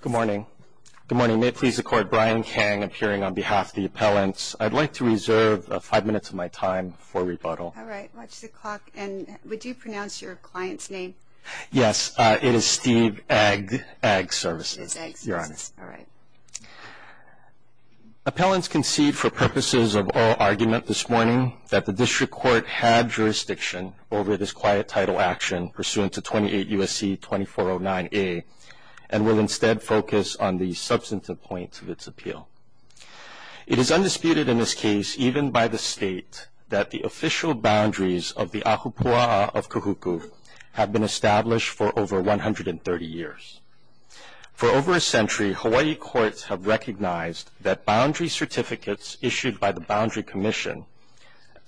Good morning. Good morning. May it please the Court, Brian Kang appearing on behalf of the appellants. I'd like to reserve five minutes of my time for rebuttal. All right. Watch the clock. And would you pronounce your client's name? Yes. It is Steve Ag's Ag Services, Your Honor. All right. Appellants concede for purposes of oral argument this morning that the district court had jurisdiction over this quiet title action pursuant to 28 U.S.C. 2409A and will instead focus on the substantive points of its appeal. It is undisputed in this case, even by the State, that the official boundaries of the ahupua'a of Kahuku have been established for over 130 years. For over a century, Hawaii courts have recognized that boundary certificates issued by the Boundary Commission,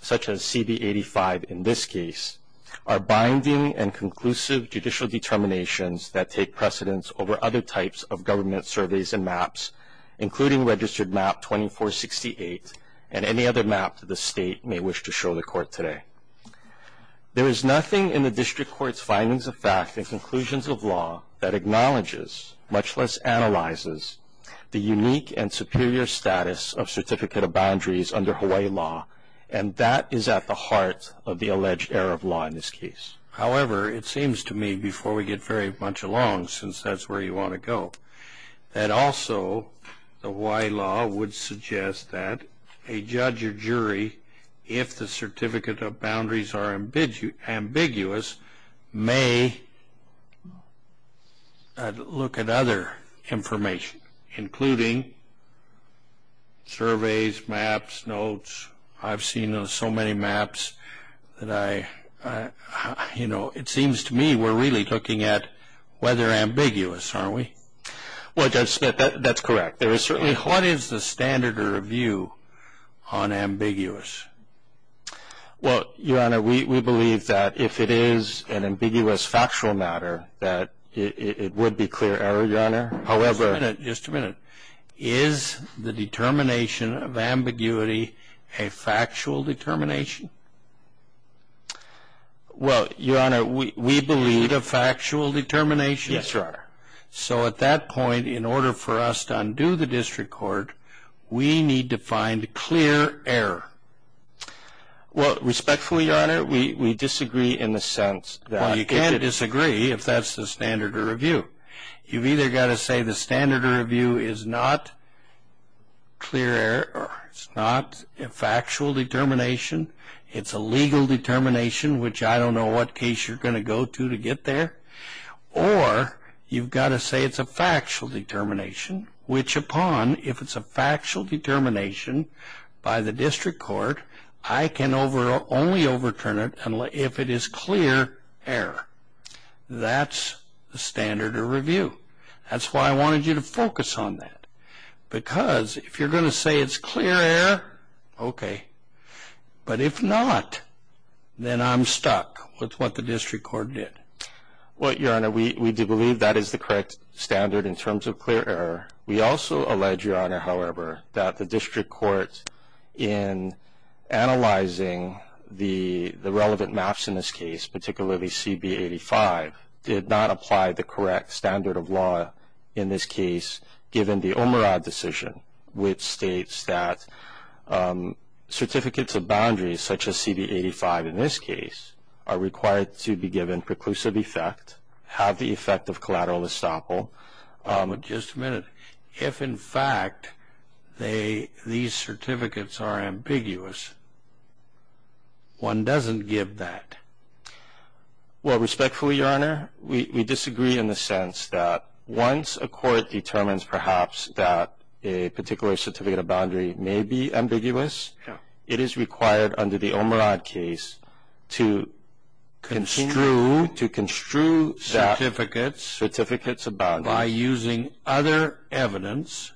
such as CB 85 in this case, are binding and conclusive judicial determinations that take precedence over other types of government surveys and maps, including registered map 2468 and any other map the State may wish to show the Court today. There is nothing in the district court's findings of fact and conclusions of law that acknowledges, much less analyzes, the unique and superior status of certificate of boundaries under Hawaii law, and that is at the heart of the alleged error of law in this case. However, it seems to me, before we get very much along, since that's where you want to go, that also the Hawaii law would suggest that a judge or jury, if the certificate of boundaries are ambiguous, may look at other information, including surveys, maps, notes. I've seen so many maps that I, you know, it seems to me we're really looking at whether they're ambiguous, aren't we? Well, Judge Smith, that's correct. What is the standard of review on ambiguous? Well, Your Honor, we believe that if it is an ambiguous factual matter, that it would be clear error, Your Honor. Just a minute, just a minute. Is the determination of ambiguity a factual determination? Well, Your Honor, we believe a factual determination. Yes, Your Honor. So at that point, in order for us to undo the district court, we need to find clear error. Well, respectfully, Your Honor, we disagree in the sense that you can't disagree if that's the standard of review. You've either got to say the standard of review is not clear error, it's not a factual determination, it's a legal determination, which I don't know what case you're going to go to to get there, or you've got to say it's a factual determination, which upon, if it's a factual determination by the district court, I can only overturn it if it is clear error. That's the standard of review. That's why I wanted you to focus on that, because if you're going to say it's clear error, okay. But if not, then I'm stuck with what the district court did. Well, Your Honor, we do believe that is the correct standard in terms of clear error. We also allege, Your Honor, however, that the district court, in analyzing the relevant maps in this case, particularly CB-85, did not apply the correct standard of law in this case, given the Omerod decision, which states that certificates of boundaries, such as CB-85 in this case, are required to be given preclusive effect, have the effect of collateral estoppel. Just a minute. If, in fact, these certificates are ambiguous, one doesn't give that. Well, respectfully, Your Honor, we disagree in the sense that once a court determines, perhaps, that a particular certificate of boundary may be ambiguous, it is required under the Omerod case to construe that certificates of boundary by using other evidence,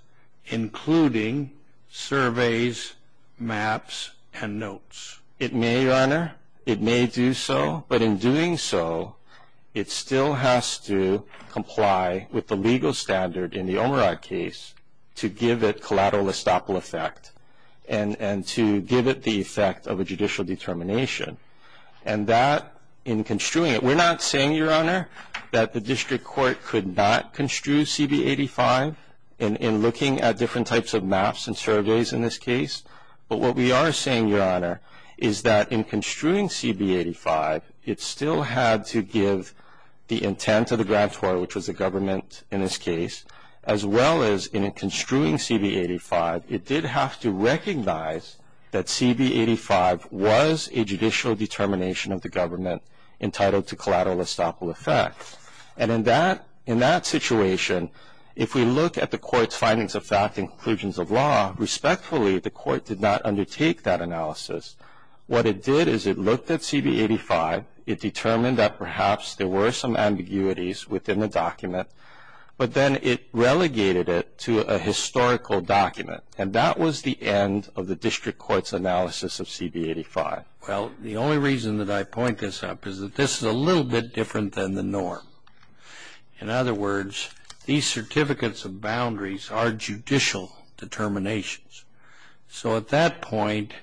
including surveys, maps, and notes. It may, Your Honor. It may do so. But in doing so, it still has to comply with the legal standard in the Omerod case to give it collateral estoppel effect and to give it the effect of a judicial determination. And that, in construing it, we're not saying, Your Honor, that the district court could not construe CB-85 in looking at different types of maps and surveys in this case. But what we are saying, Your Honor, is that in construing CB-85, it still had to give the intent of the grantor, which was the government in this case, as well as in construing CB-85, it did have to recognize that CB-85 was a judicial determination of the government entitled to collateral estoppel effect. And in that situation, if we look at the court's findings of fact and conclusions of law, respectfully, the court did not undertake that analysis. What it did is it looked at CB-85, it determined that perhaps there were some ambiguities within the document, but then it relegated it to a historical document. And that was the end of the district court's analysis of CB-85. Well, the only reason that I point this up is that this is a little bit different than the norm. In other words, these certificates of boundaries are judicial determinations. So, at that point,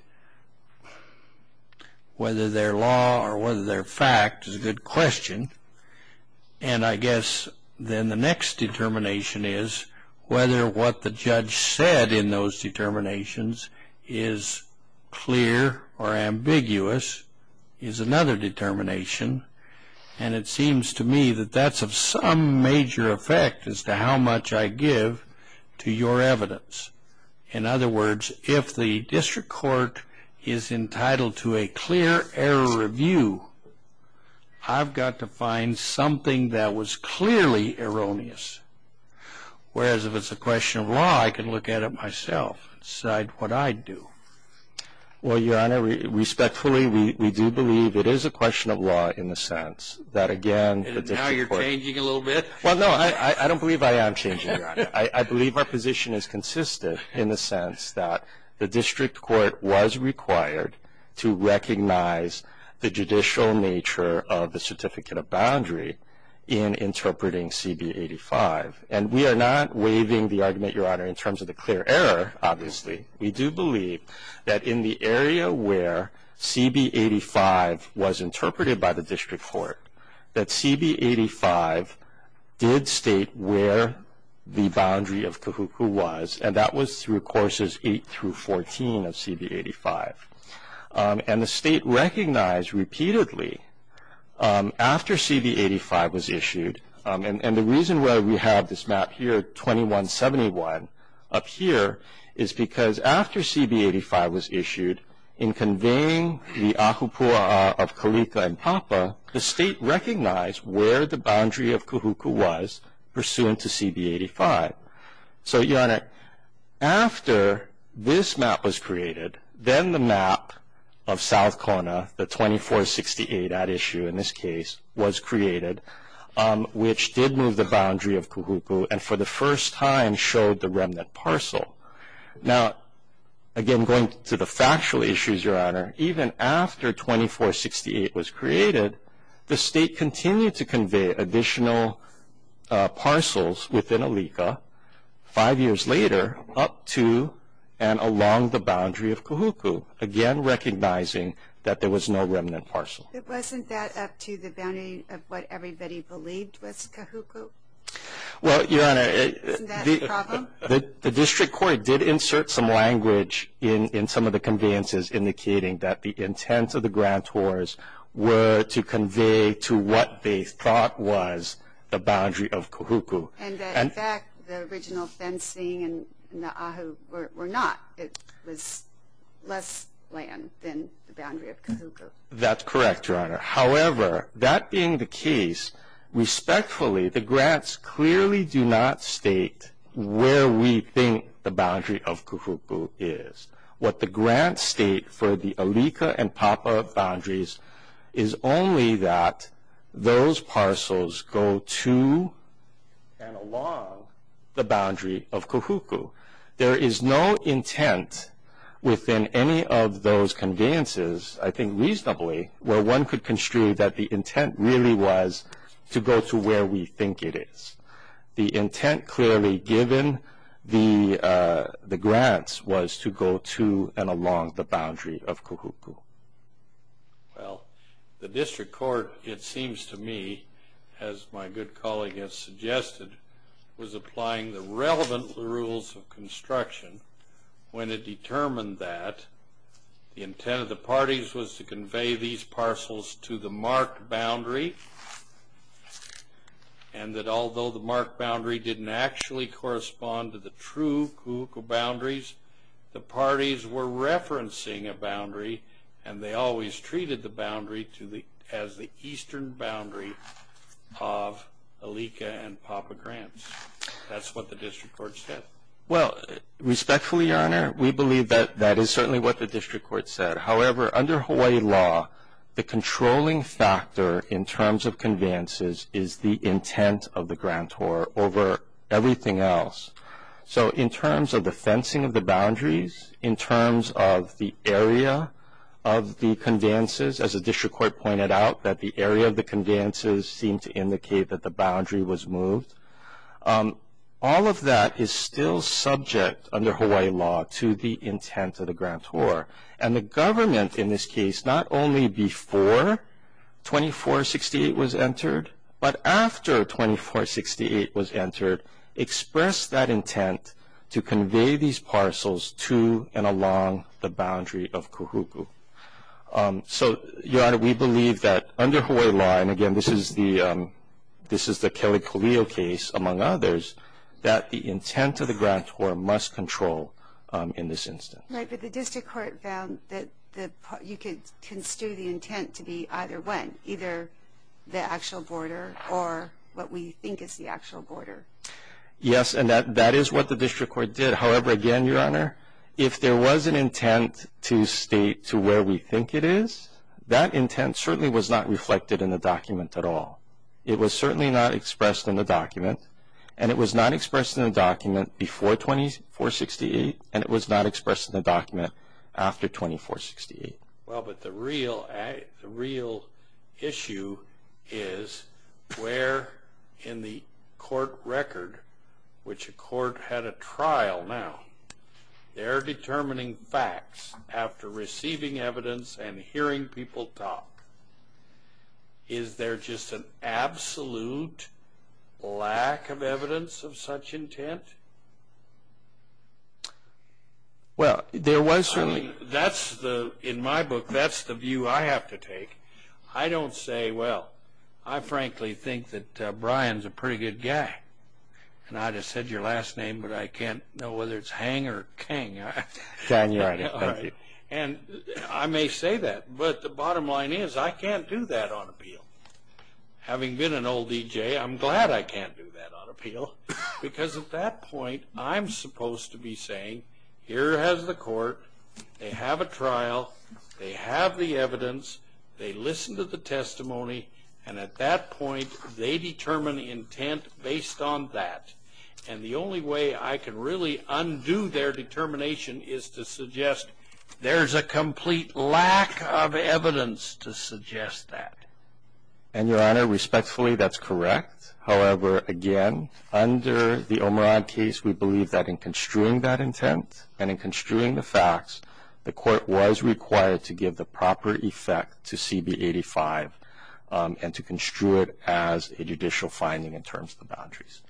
whether they're law or whether they're fact is a good question. And I guess then the next determination is whether what the judge said in those determinations is clear or ambiguous is another determination. And it seems to me that that's of some major effect as to how much I give to your evidence. In other words, if the district court is entitled to a clear error review, I've got to find something that was clearly erroneous. Whereas, if it's a question of law, I can look at it myself, decide what I'd do. Well, Your Honor, respectfully, we do believe it is a question of law in the sense that, again, the district court And now you're changing a little bit? Well, no, I don't believe I am changing, Your Honor. I believe our position is consistent in the sense that the district court was required to recognize the judicial nature of the certificate of boundary in interpreting CB 85. And we are not waiving the argument, Your Honor, in terms of the clear error, obviously. We do believe that in the area where CB 85 was interpreted by the district court, that CB 85 did state where the boundary of Kahuku was. And that was through Courses 8 through 14 of CB 85. And the state recognized repeatedly after CB 85 was issued, and the reason why we have this map here, 2171, up here, is because after CB 85 was issued, in conveying the ahupua'a of Kalika and Papa, the state recognized where the boundary of Kahuku was pursuant to CB 85. So, Your Honor, after this map was created, then the map of South Kona, the 2468 at issue in this case, was created, which did move the boundary of Kahuku, and for the first time showed the remnant parcel. Now, again, going to the factual issues, Your Honor, even after 2468 was created, the state continued to convey additional parcels within Alika, five years later, up to and along the boundary of Kahuku, again, recognizing that there was no remnant parcel. But wasn't that up to the boundary of what everybody believed was Kahuku? Well, Your Honor. Isn't that the problem? The district court did insert some language in some of the conveyances, indicating that the intent of the grantors were to convey to what they thought was the boundary of Kahuku. And that, in fact, the original fencing and the ahupua'a were not. It was less land than the boundary of Kahuku. That's correct, Your Honor. However, that being the case, respectfully, the grants clearly do not state where we think the boundary of Kahuku is. What the grants state for the Alika and Papa boundaries is only that those parcels go to and along the boundary of Kahuku. There is no intent within any of those conveyances, I think reasonably, where one could construe that the intent really was to go to where we think it is. The intent clearly given the grants was to go to and along the boundary of Kahuku. Well, the district court, it seems to me, as my good colleague has suggested, was applying the relevant rules of construction when it determined that the intent of the parties was to convey these parcels to the marked boundary. And that although the marked boundary didn't actually correspond to the true Kahuku boundaries, the parties were referencing a boundary, and they always treated the boundary as the eastern boundary of Alika and Papa grants. That's what the district court said. Well, respectfully, Your Honor, we believe that that is certainly what the district court said. However, under Hawaii law, the controlling factor in terms of conveyances is the intent of the grantor over everything else. So in terms of the fencing of the boundaries, in terms of the area of the conveyances, as the district court pointed out that the area of the conveyances seemed to indicate that the boundary was moved, all of that is still subject under Hawaii law to the intent of the grantor. And the government in this case, not only before 2468 was entered, but after 2468 was entered, expressed that intent to convey these parcels to and along the boundary of Kahuku. So, Your Honor, we believe that under Hawaii law, and again this is the Kelly-Colio case among others, that the intent of the grantor must control in this instance. Right, but the district court found that you could construe the intent to be either one, either the actual border or what we think is the actual border. Yes, and that is what the district court did. However, again, Your Honor, if there was an intent to state to where we think it is, that intent certainly was not reflected in the document at all. It was certainly not expressed in the document, and it was not expressed in the document before 2468, and it was not expressed in the document after 2468. Well, but the real issue is where in the court record, which a court had a trial now, they're determining facts after receiving evidence and hearing people talk. Is there just an absolute lack of evidence of such intent? Well, there was certainly... That's the, in my book, that's the view I have to take. I don't say, well, I frankly think that Brian's a pretty good guy, and I just said your last name, but I can't know whether it's Hang or Kang. John, Your Honor, thank you. And I may say that, but the bottom line is I can't do that on appeal. Having been an old DJ, I'm glad I can't do that on appeal, because at that point I'm supposed to be saying here has the court. They have a trial. They have the evidence. They listen to the testimony, and at that point they determine intent based on that. And the only way I can really undo their determination is to suggest there's a complete lack of evidence to suggest that. And, Your Honor, respectfully, that's correct. However, again, under the O'Mara case, we believe that in construing that intent and in construing the facts, the court was required to give the proper effect to CB 85 and to construe it as a judicial finding in terms of the boundaries.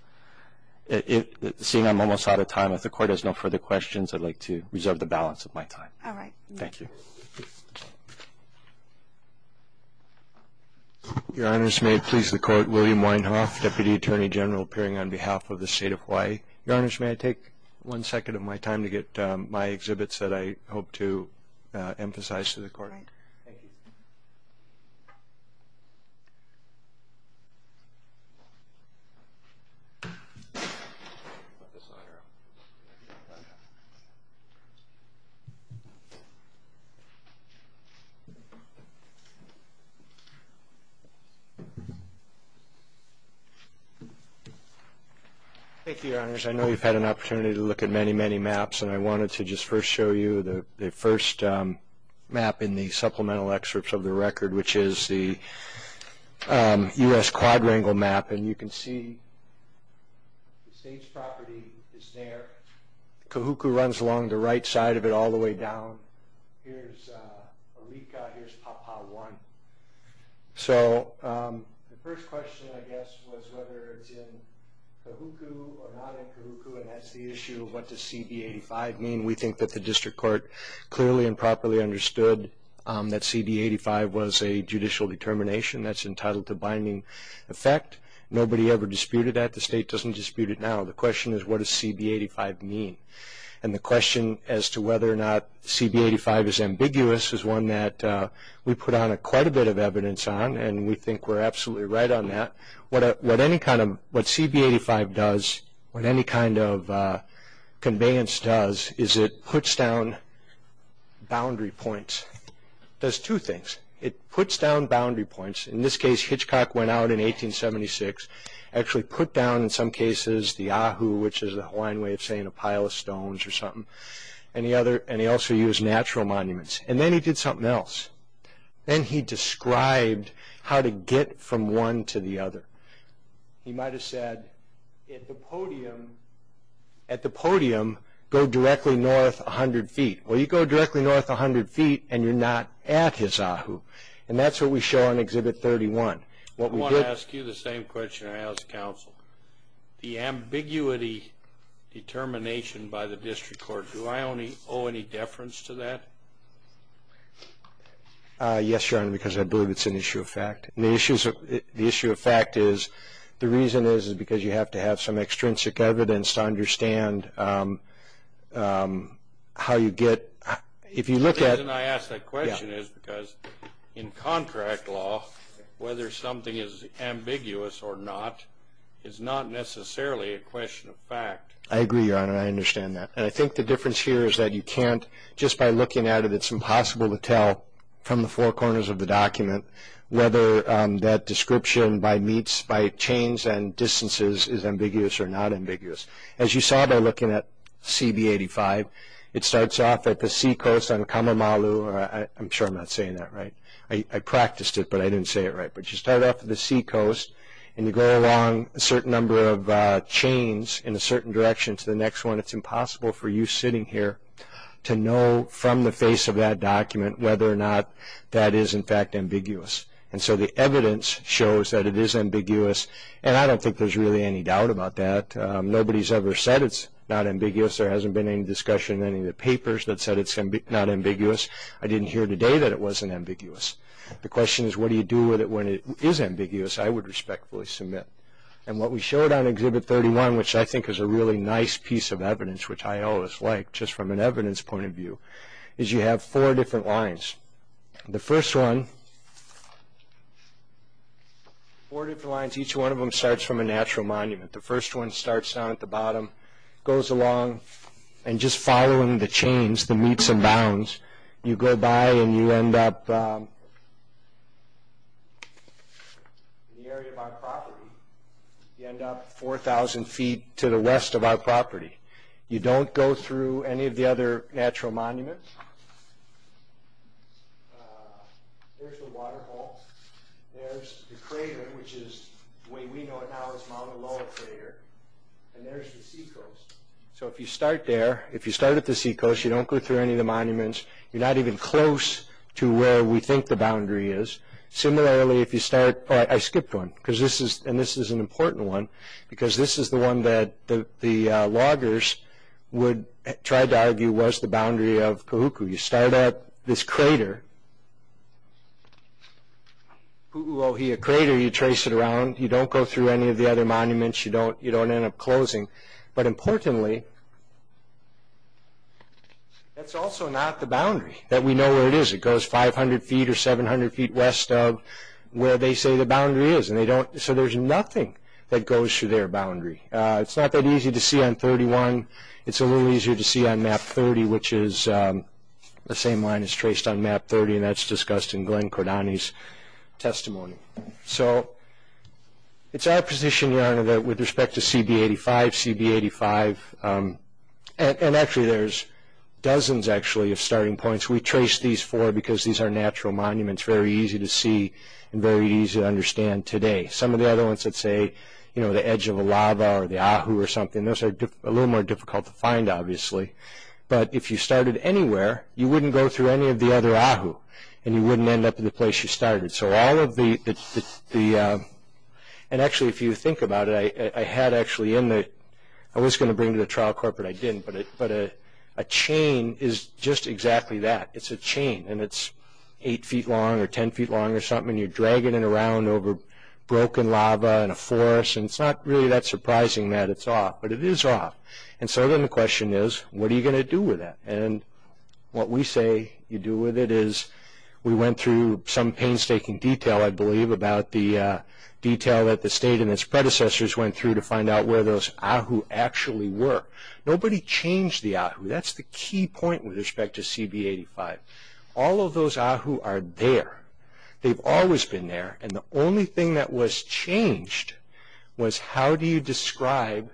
Seeing I'm almost out of time, if the court has no further questions, I'd like to reserve the balance of my time. All right. Thank you. Your Honors, may it please the Court, William Weinhoff, Deputy Attorney General appearing on behalf of the State of Hawaii. Your Honors, may I take one second of my time to get my exhibits that I hope to emphasize to the Court? All right. Thank you. Thank you, Your Honors. I know you've had an opportunity to look at many, many maps, and I wanted to just first show you the first map in the supplemental excerpts of the record, which is the U.S. quadrangle map. And you can see the stage property is there. Kahuku runs along the right side of it all the way down. Here's Arika. Here's Papa 1. So the first question, I guess, was whether it's in Kahuku or not in Kahuku, and that's the issue of what does CB 85 mean. We think that the district court clearly and properly understood that CB 85 was a judicial determination that's entitled to binding effect. Nobody ever disputed that. The state doesn't dispute it now. The question is, what does CB 85 mean? And the question as to whether or not CB 85 is ambiguous is one that we put on quite a bit of evidence on, and we think we're absolutely right on that. What CB 85 does, what any kind of conveyance does, is it puts down boundary points. It does two things. It puts down boundary points. In this case, Hitchcock went out in 1876, actually put down, in some cases, the ahu, which is the Hawaiian way of saying a pile of stones or something, and he also used natural monuments. And then he did something else. Then he described how to get from one to the other. He might have said, at the podium, go directly north 100 feet. Well, you go directly north 100 feet and you're not at his ahu, and that's what we show on Exhibit 31. I want to ask you the same question I asked counsel. The ambiguity determination by the district court, do I owe any deference to that? Yes, Your Honor, because I believe it's an issue of fact. The issue of fact is, the reason is, is because you have to have some extrinsic evidence to understand how you get. The reason I ask that question is because in contract law, whether something is ambiguous or not is not necessarily a question of fact. I agree, Your Honor. I understand that. And I think the difference here is that you can't, just by looking at it, it's impossible to tell from the four corners of the document whether that description by chains and distances is ambiguous or not ambiguous. As you saw by looking at CB85, it starts off at the seacoast on Kamamalu. I'm sure I'm not saying that right. I practiced it, but I didn't say it right. But you start off at the seacoast and you go along a certain number of chains in a certain direction to the next one. It's impossible for you sitting here to know from the face of that document whether or not that is, in fact, ambiguous. And so the evidence shows that it is ambiguous, and I don't think there's really any doubt about that. Nobody's ever said it's not ambiguous. There hasn't been any discussion in any of the papers that said it's not ambiguous. I didn't hear today that it wasn't ambiguous. The question is, what do you do with it when it is ambiguous? I would respectfully submit. And what we showed on Exhibit 31, which I think is a really nice piece of evidence, which I always like just from an evidence point of view, is you have four different lines. The first one, four different lines, each one of them starts from a natural monument. The first one starts down at the bottom, goes along, and just following the chains, the meets and bounds, you go by and you end up in the area of our property. You end up 4,000 feet to the west of our property. You don't go through any of the other natural monuments. There's the water hole. There's the crater, which is the way we know it now as Mauna Loa Crater. And there's the seacoast. So if you start there, if you start at the seacoast, you don't go through any of the monuments. You're not even close to where we think the boundary is. Similarly, if you start, oh, I skipped one, and this is an important one, because this is the one that the loggers would try to argue was the boundary of Kahuku. You start at this crater, Pu'u Ohia Crater, you trace it around. You don't go through any of the other monuments. You don't end up closing. But importantly, that's also not the boundary that we know where it is. It goes 500 feet or 700 feet west of where they say the boundary is. So there's nothing that goes through their boundary. It's not that easy to see on 31. It's a little easier to see on Map 30, which is the same line as traced on Map 30, and that's discussed in Glenn Cordani's testimony. So it's our position, Your Honor, that with respect to CB-85, CB-85, and actually there's dozens, actually, of starting points. We traced these four because these are natural monuments, very easy to see and very easy to understand today. Some of the other ones that say, you know, the edge of a lava or the Ahu or something, those are a little more difficult to find, obviously. But if you started anywhere, you wouldn't go through any of the other Ahu, and you wouldn't end up in the place you started. So all of the – and actually, if you think about it, I had actually in the – I was going to bring to the trial corporate. I didn't, but a chain is just exactly that. It's a chain, and it's 8 feet long or 10 feet long or something, and you're dragging it around over broken lava and a forest, and it's not really that surprising that it's off, but it is off. And so then the question is, what are you going to do with that? And what we say you do with it is we went through some painstaking detail, I believe, about the detail that the state and its predecessors went through to find out where those Ahu actually were. Nobody changed the Ahu. That's the key point with respect to CB-85. All of those Ahu are there. They've always been there, and the only thing that was changed was how do you describe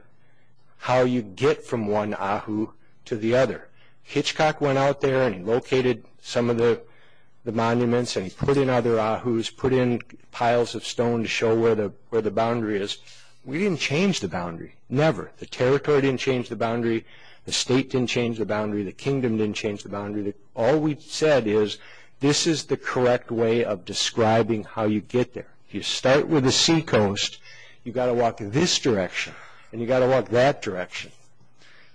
how you get from one Ahu to the other. Hitchcock went out there and he located some of the monuments and he put in other Ahus, put in piles of stone to show where the boundary is. We didn't change the boundary, never. The territory didn't change the boundary. The kingdom didn't change the boundary. All we said is this is the correct way of describing how you get there. If you start with a seacoast, you've got to walk this direction and you've got to walk that direction.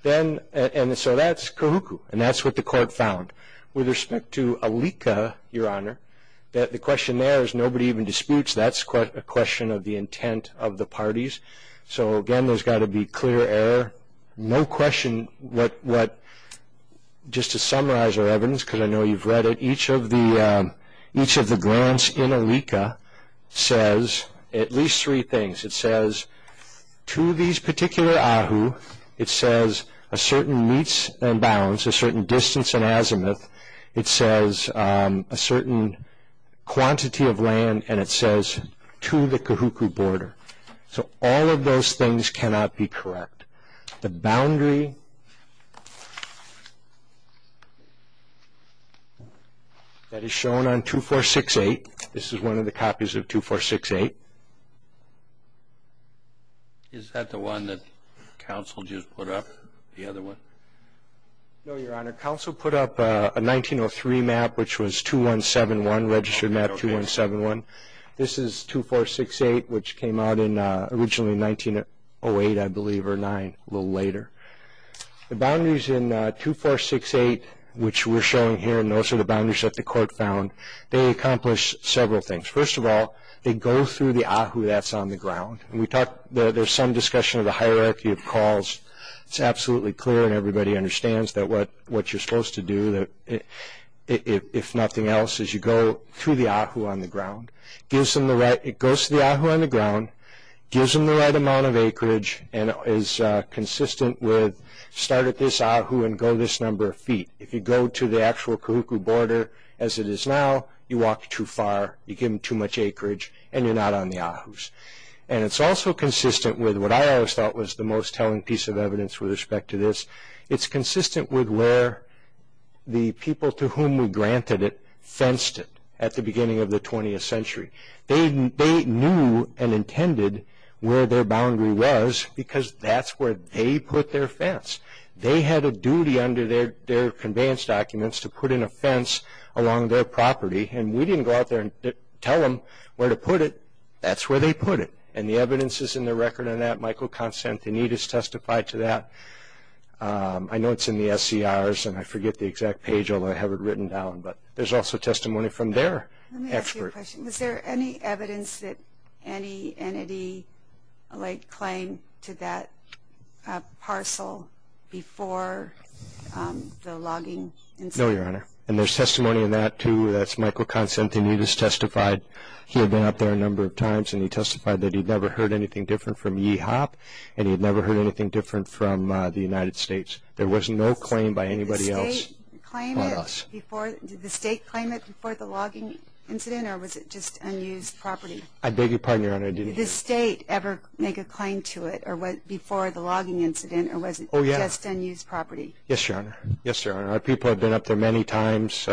And so that's Kahuku, and that's what the court found. With respect to Alika, Your Honor, the question there is nobody even disputes. That's a question of the intent of the parties. So, again, there's got to be clear error. No question, just to summarize our evidence, because I know you've read it, each of the grants in Alika says at least three things. It says to these particular Ahu, it says a certain meets and bounds, a certain distance and azimuth. It says a certain quantity of land, and it says to the Kahuku border. So all of those things cannot be correct. The boundary that is shown on 2468, this is one of the copies of 2468. Is that the one that counsel just put up, the other one? No, Your Honor. Counsel put up a 1903 map, which was 2171, registered map 2171. This is 2468, which came out in originally 1908, I believe, or 9, a little later. The boundaries in 2468, which we're showing here, and those are the boundaries that the court found, they accomplish several things. First of all, they go through the Ahu that's on the ground. There's some discussion of the hierarchy of calls. It's absolutely clear, and everybody understands what you're supposed to do, if nothing else, is you go through the Ahu on the ground. It goes to the Ahu on the ground, gives them the right amount of acreage, and is consistent with start at this Ahu and go this number of feet. If you go to the actual Kahuku border as it is now, you walk too far, you give them too much acreage, and you're not on the Ahus. And it's also consistent with what I always thought was the most telling piece of evidence with respect to this. It's consistent with where the people to whom we granted it fenced it at the beginning of the 20th century. They knew and intended where their boundary was because that's where they put their fence. They had a duty under their conveyance documents to put in a fence along their property, and we didn't go out there and tell them where to put it. That's where they put it, and the evidence is in the record on that. Michael Konstantinidis testified to that. I know it's in the SCRs, and I forget the exact page, although I have it written down, but there's also testimony from their expert. Let me ask you a question. Was there any evidence that any entity laid claim to that parcel before the logging incident? No, Your Honor, and there's testimony in that, too. That's Michael Konstantinidis testified. He had been up there a number of times, and he testified that he'd never heard anything different from EHOP, and he'd never heard anything different from the United States. There was no claim by anybody else. Did the state claim it before the logging incident, or was it just unused property? I beg your pardon, Your Honor. Did the state ever make a claim to it before the logging incident, or was it just unused property? Yes, Your Honor. Yes, Your Honor. Our people have been up there many times.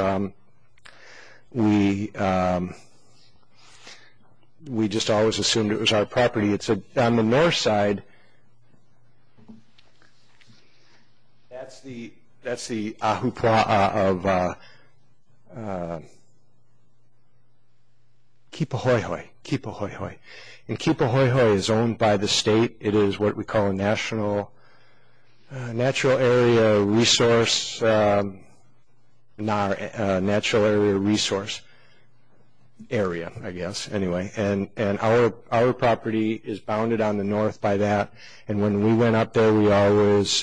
We just always assumed it was our property. On the north side, that's the ahupua'a of Kipahoehoe. Kipahoehoe is owned by the state. It is what we call a natural area resource NAR, natural area resource area, I guess. Anyway, our property is bounded on the north by that, and when we went up there, we always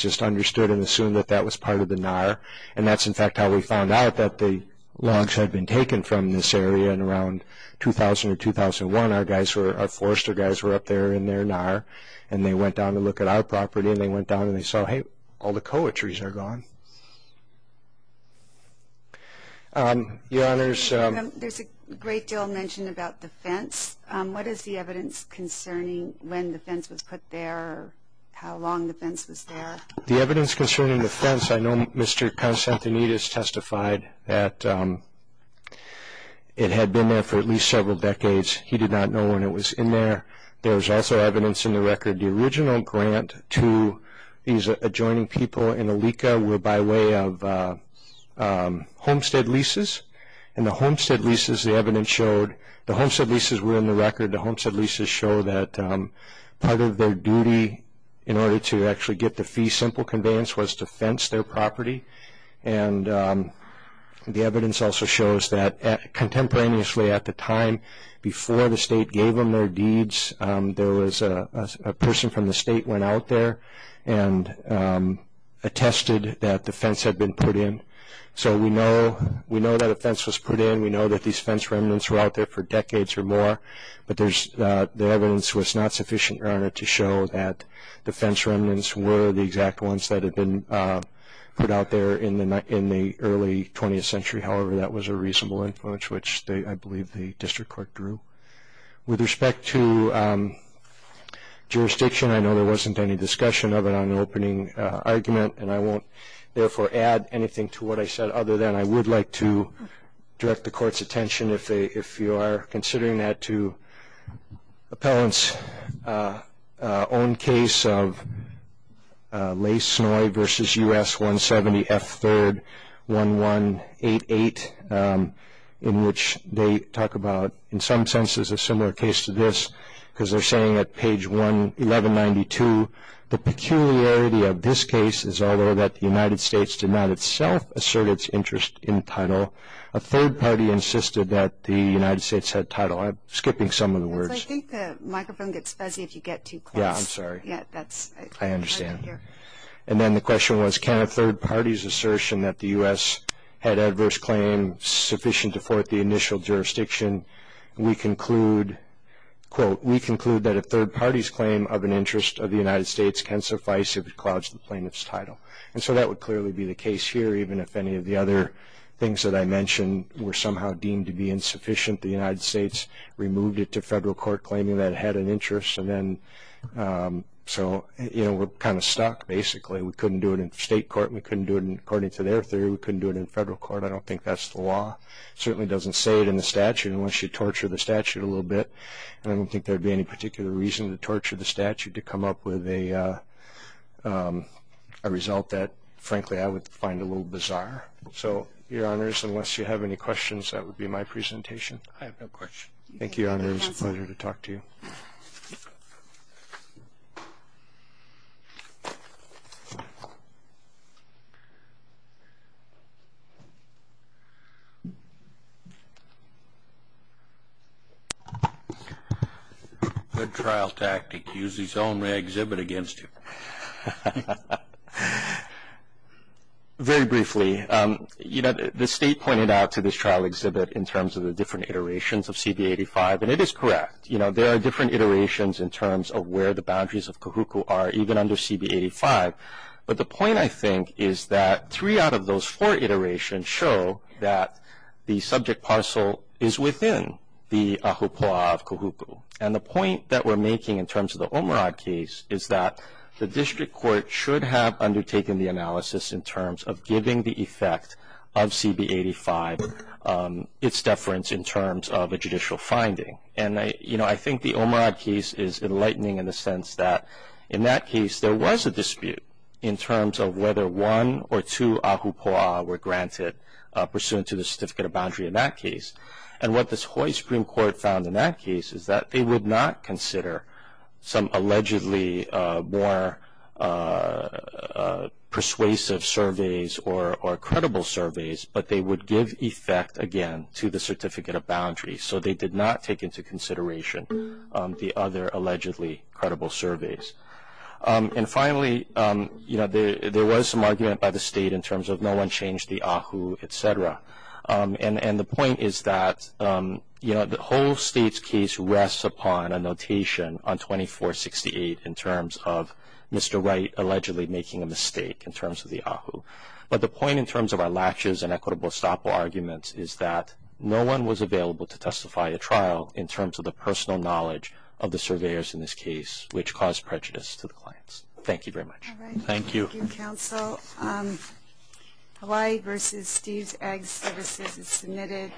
just understood and assumed that that was part of the NAR, and that's, in fact, how we found out that the logs had been taken from this area. Around 2000 or 2001, our forester guys were up there in their NAR, and they went down to look at our property, and they went down and they saw, hey, all the koa trees are gone. Your Honors, There's a great deal mentioned about the fence. What is the evidence concerning when the fence was put there, how long the fence was there? The evidence concerning the fence, I know Mr. Constantinidis testified that it had been there for at least several decades. He did not know when it was in there. There was also evidence in the record, the original grant to these adjoining people in Alika were by way of homestead leases, and the homestead leases, the evidence showed, the homestead leases were in the record. The homestead leases show that part of their duty in order to actually get the fee simple conveyance was to fence their property. The evidence also shows that contemporaneously at the time before the state gave them their deeds, there was a person from the state went out there and attested that the fence had been put in. We know that a fence was put in. We know that these fence remnants were out there for decades or more, but the evidence was not sufficient to show that the fence remnants were the exact ones that had been put out there in the early 20th century. However, that was a reasonable influence, which I believe the district court drew. With respect to jurisdiction, I know there wasn't any discussion of it on the opening argument, and I won't therefore add anything to what I said other than I would like to direct the court's attention if you are considering that to appellant's own case of Lay-Snoy v. U.S. 170 F. 3rd 1188, in which they talk about in some senses a similar case to this because they're saying at page 1192, the peculiarity of this case is although that the United States did not itself assert its interest in title, a third party insisted that the United States had title. I'm skipping some of the words. I think the microphone gets fuzzy if you get too close. Yeah, I'm sorry. I understand. And then the question was, can a third party's assertion that the U.S. had adverse claim sufficient to thwart the initial jurisdiction? We conclude, quote, we conclude that a third party's claim of an interest of the United States can suffice if it clouds the plaintiff's title. And so that would clearly be the case here even if any of the other things that I mentioned were somehow deemed to be insufficient. The United States removed it to federal court claiming that it had an interest. And then so, you know, we're kind of stuck basically. We couldn't do it in state court. We couldn't do it according to their theory. We couldn't do it in federal court. I don't think that's the law. It certainly doesn't say it in the statute unless you torture the statute a little bit. And I don't think there would be any particular reason to torture the statute to come up with a result that, frankly, I would find a little bizarre. So, Your Honors, unless you have any questions, that would be my presentation. I have no questions. Thank you, Your Honors. Pleasure to talk to you. Good trial tactic. Use his own exhibit against you. Very briefly, you know, the State pointed out to this trial exhibit in terms of the different iterations of CB-85, and it is correct. You know, there are different iterations in terms of where the boundaries of Kahuku are even under CB-85. But the point, I think, is that three out of those four iterations show that the subject parcel is within the Kahuku. And the point that we're making in terms of the Omurad case is that the district court should have undertaken the analysis in terms of giving the effect of CB-85 its deference in terms of a judicial finding. And, you know, I think the Omurad case is enlightening in the sense that in that case there was a dispute in terms of whether one or two ahupua'a were granted pursuant to the certificate of boundary in that case. And what this Hawaii Supreme Court found in that case is that they would not consider some allegedly more persuasive surveys or credible surveys, but they would give effect, again, to the certificate of boundary. So they did not take into consideration the other allegedly credible surveys. And finally, you know, there was some argument by the State in terms of no one changed the ahupua'a, et cetera. And the point is that, you know, the whole State's case rests upon a notation on 2468 in terms of Mr. Wright allegedly making a mistake in terms of the ahupua'a. But the point in terms of our latches and equitable estoppel arguments is that no one was available to testify at trial in terms of the personal knowledge of the surveyors in this case, which caused prejudice to the clients. Thank you very much. Thank you. Thank you, counsel. Hawaii v. Steve's Ag Services is submitted.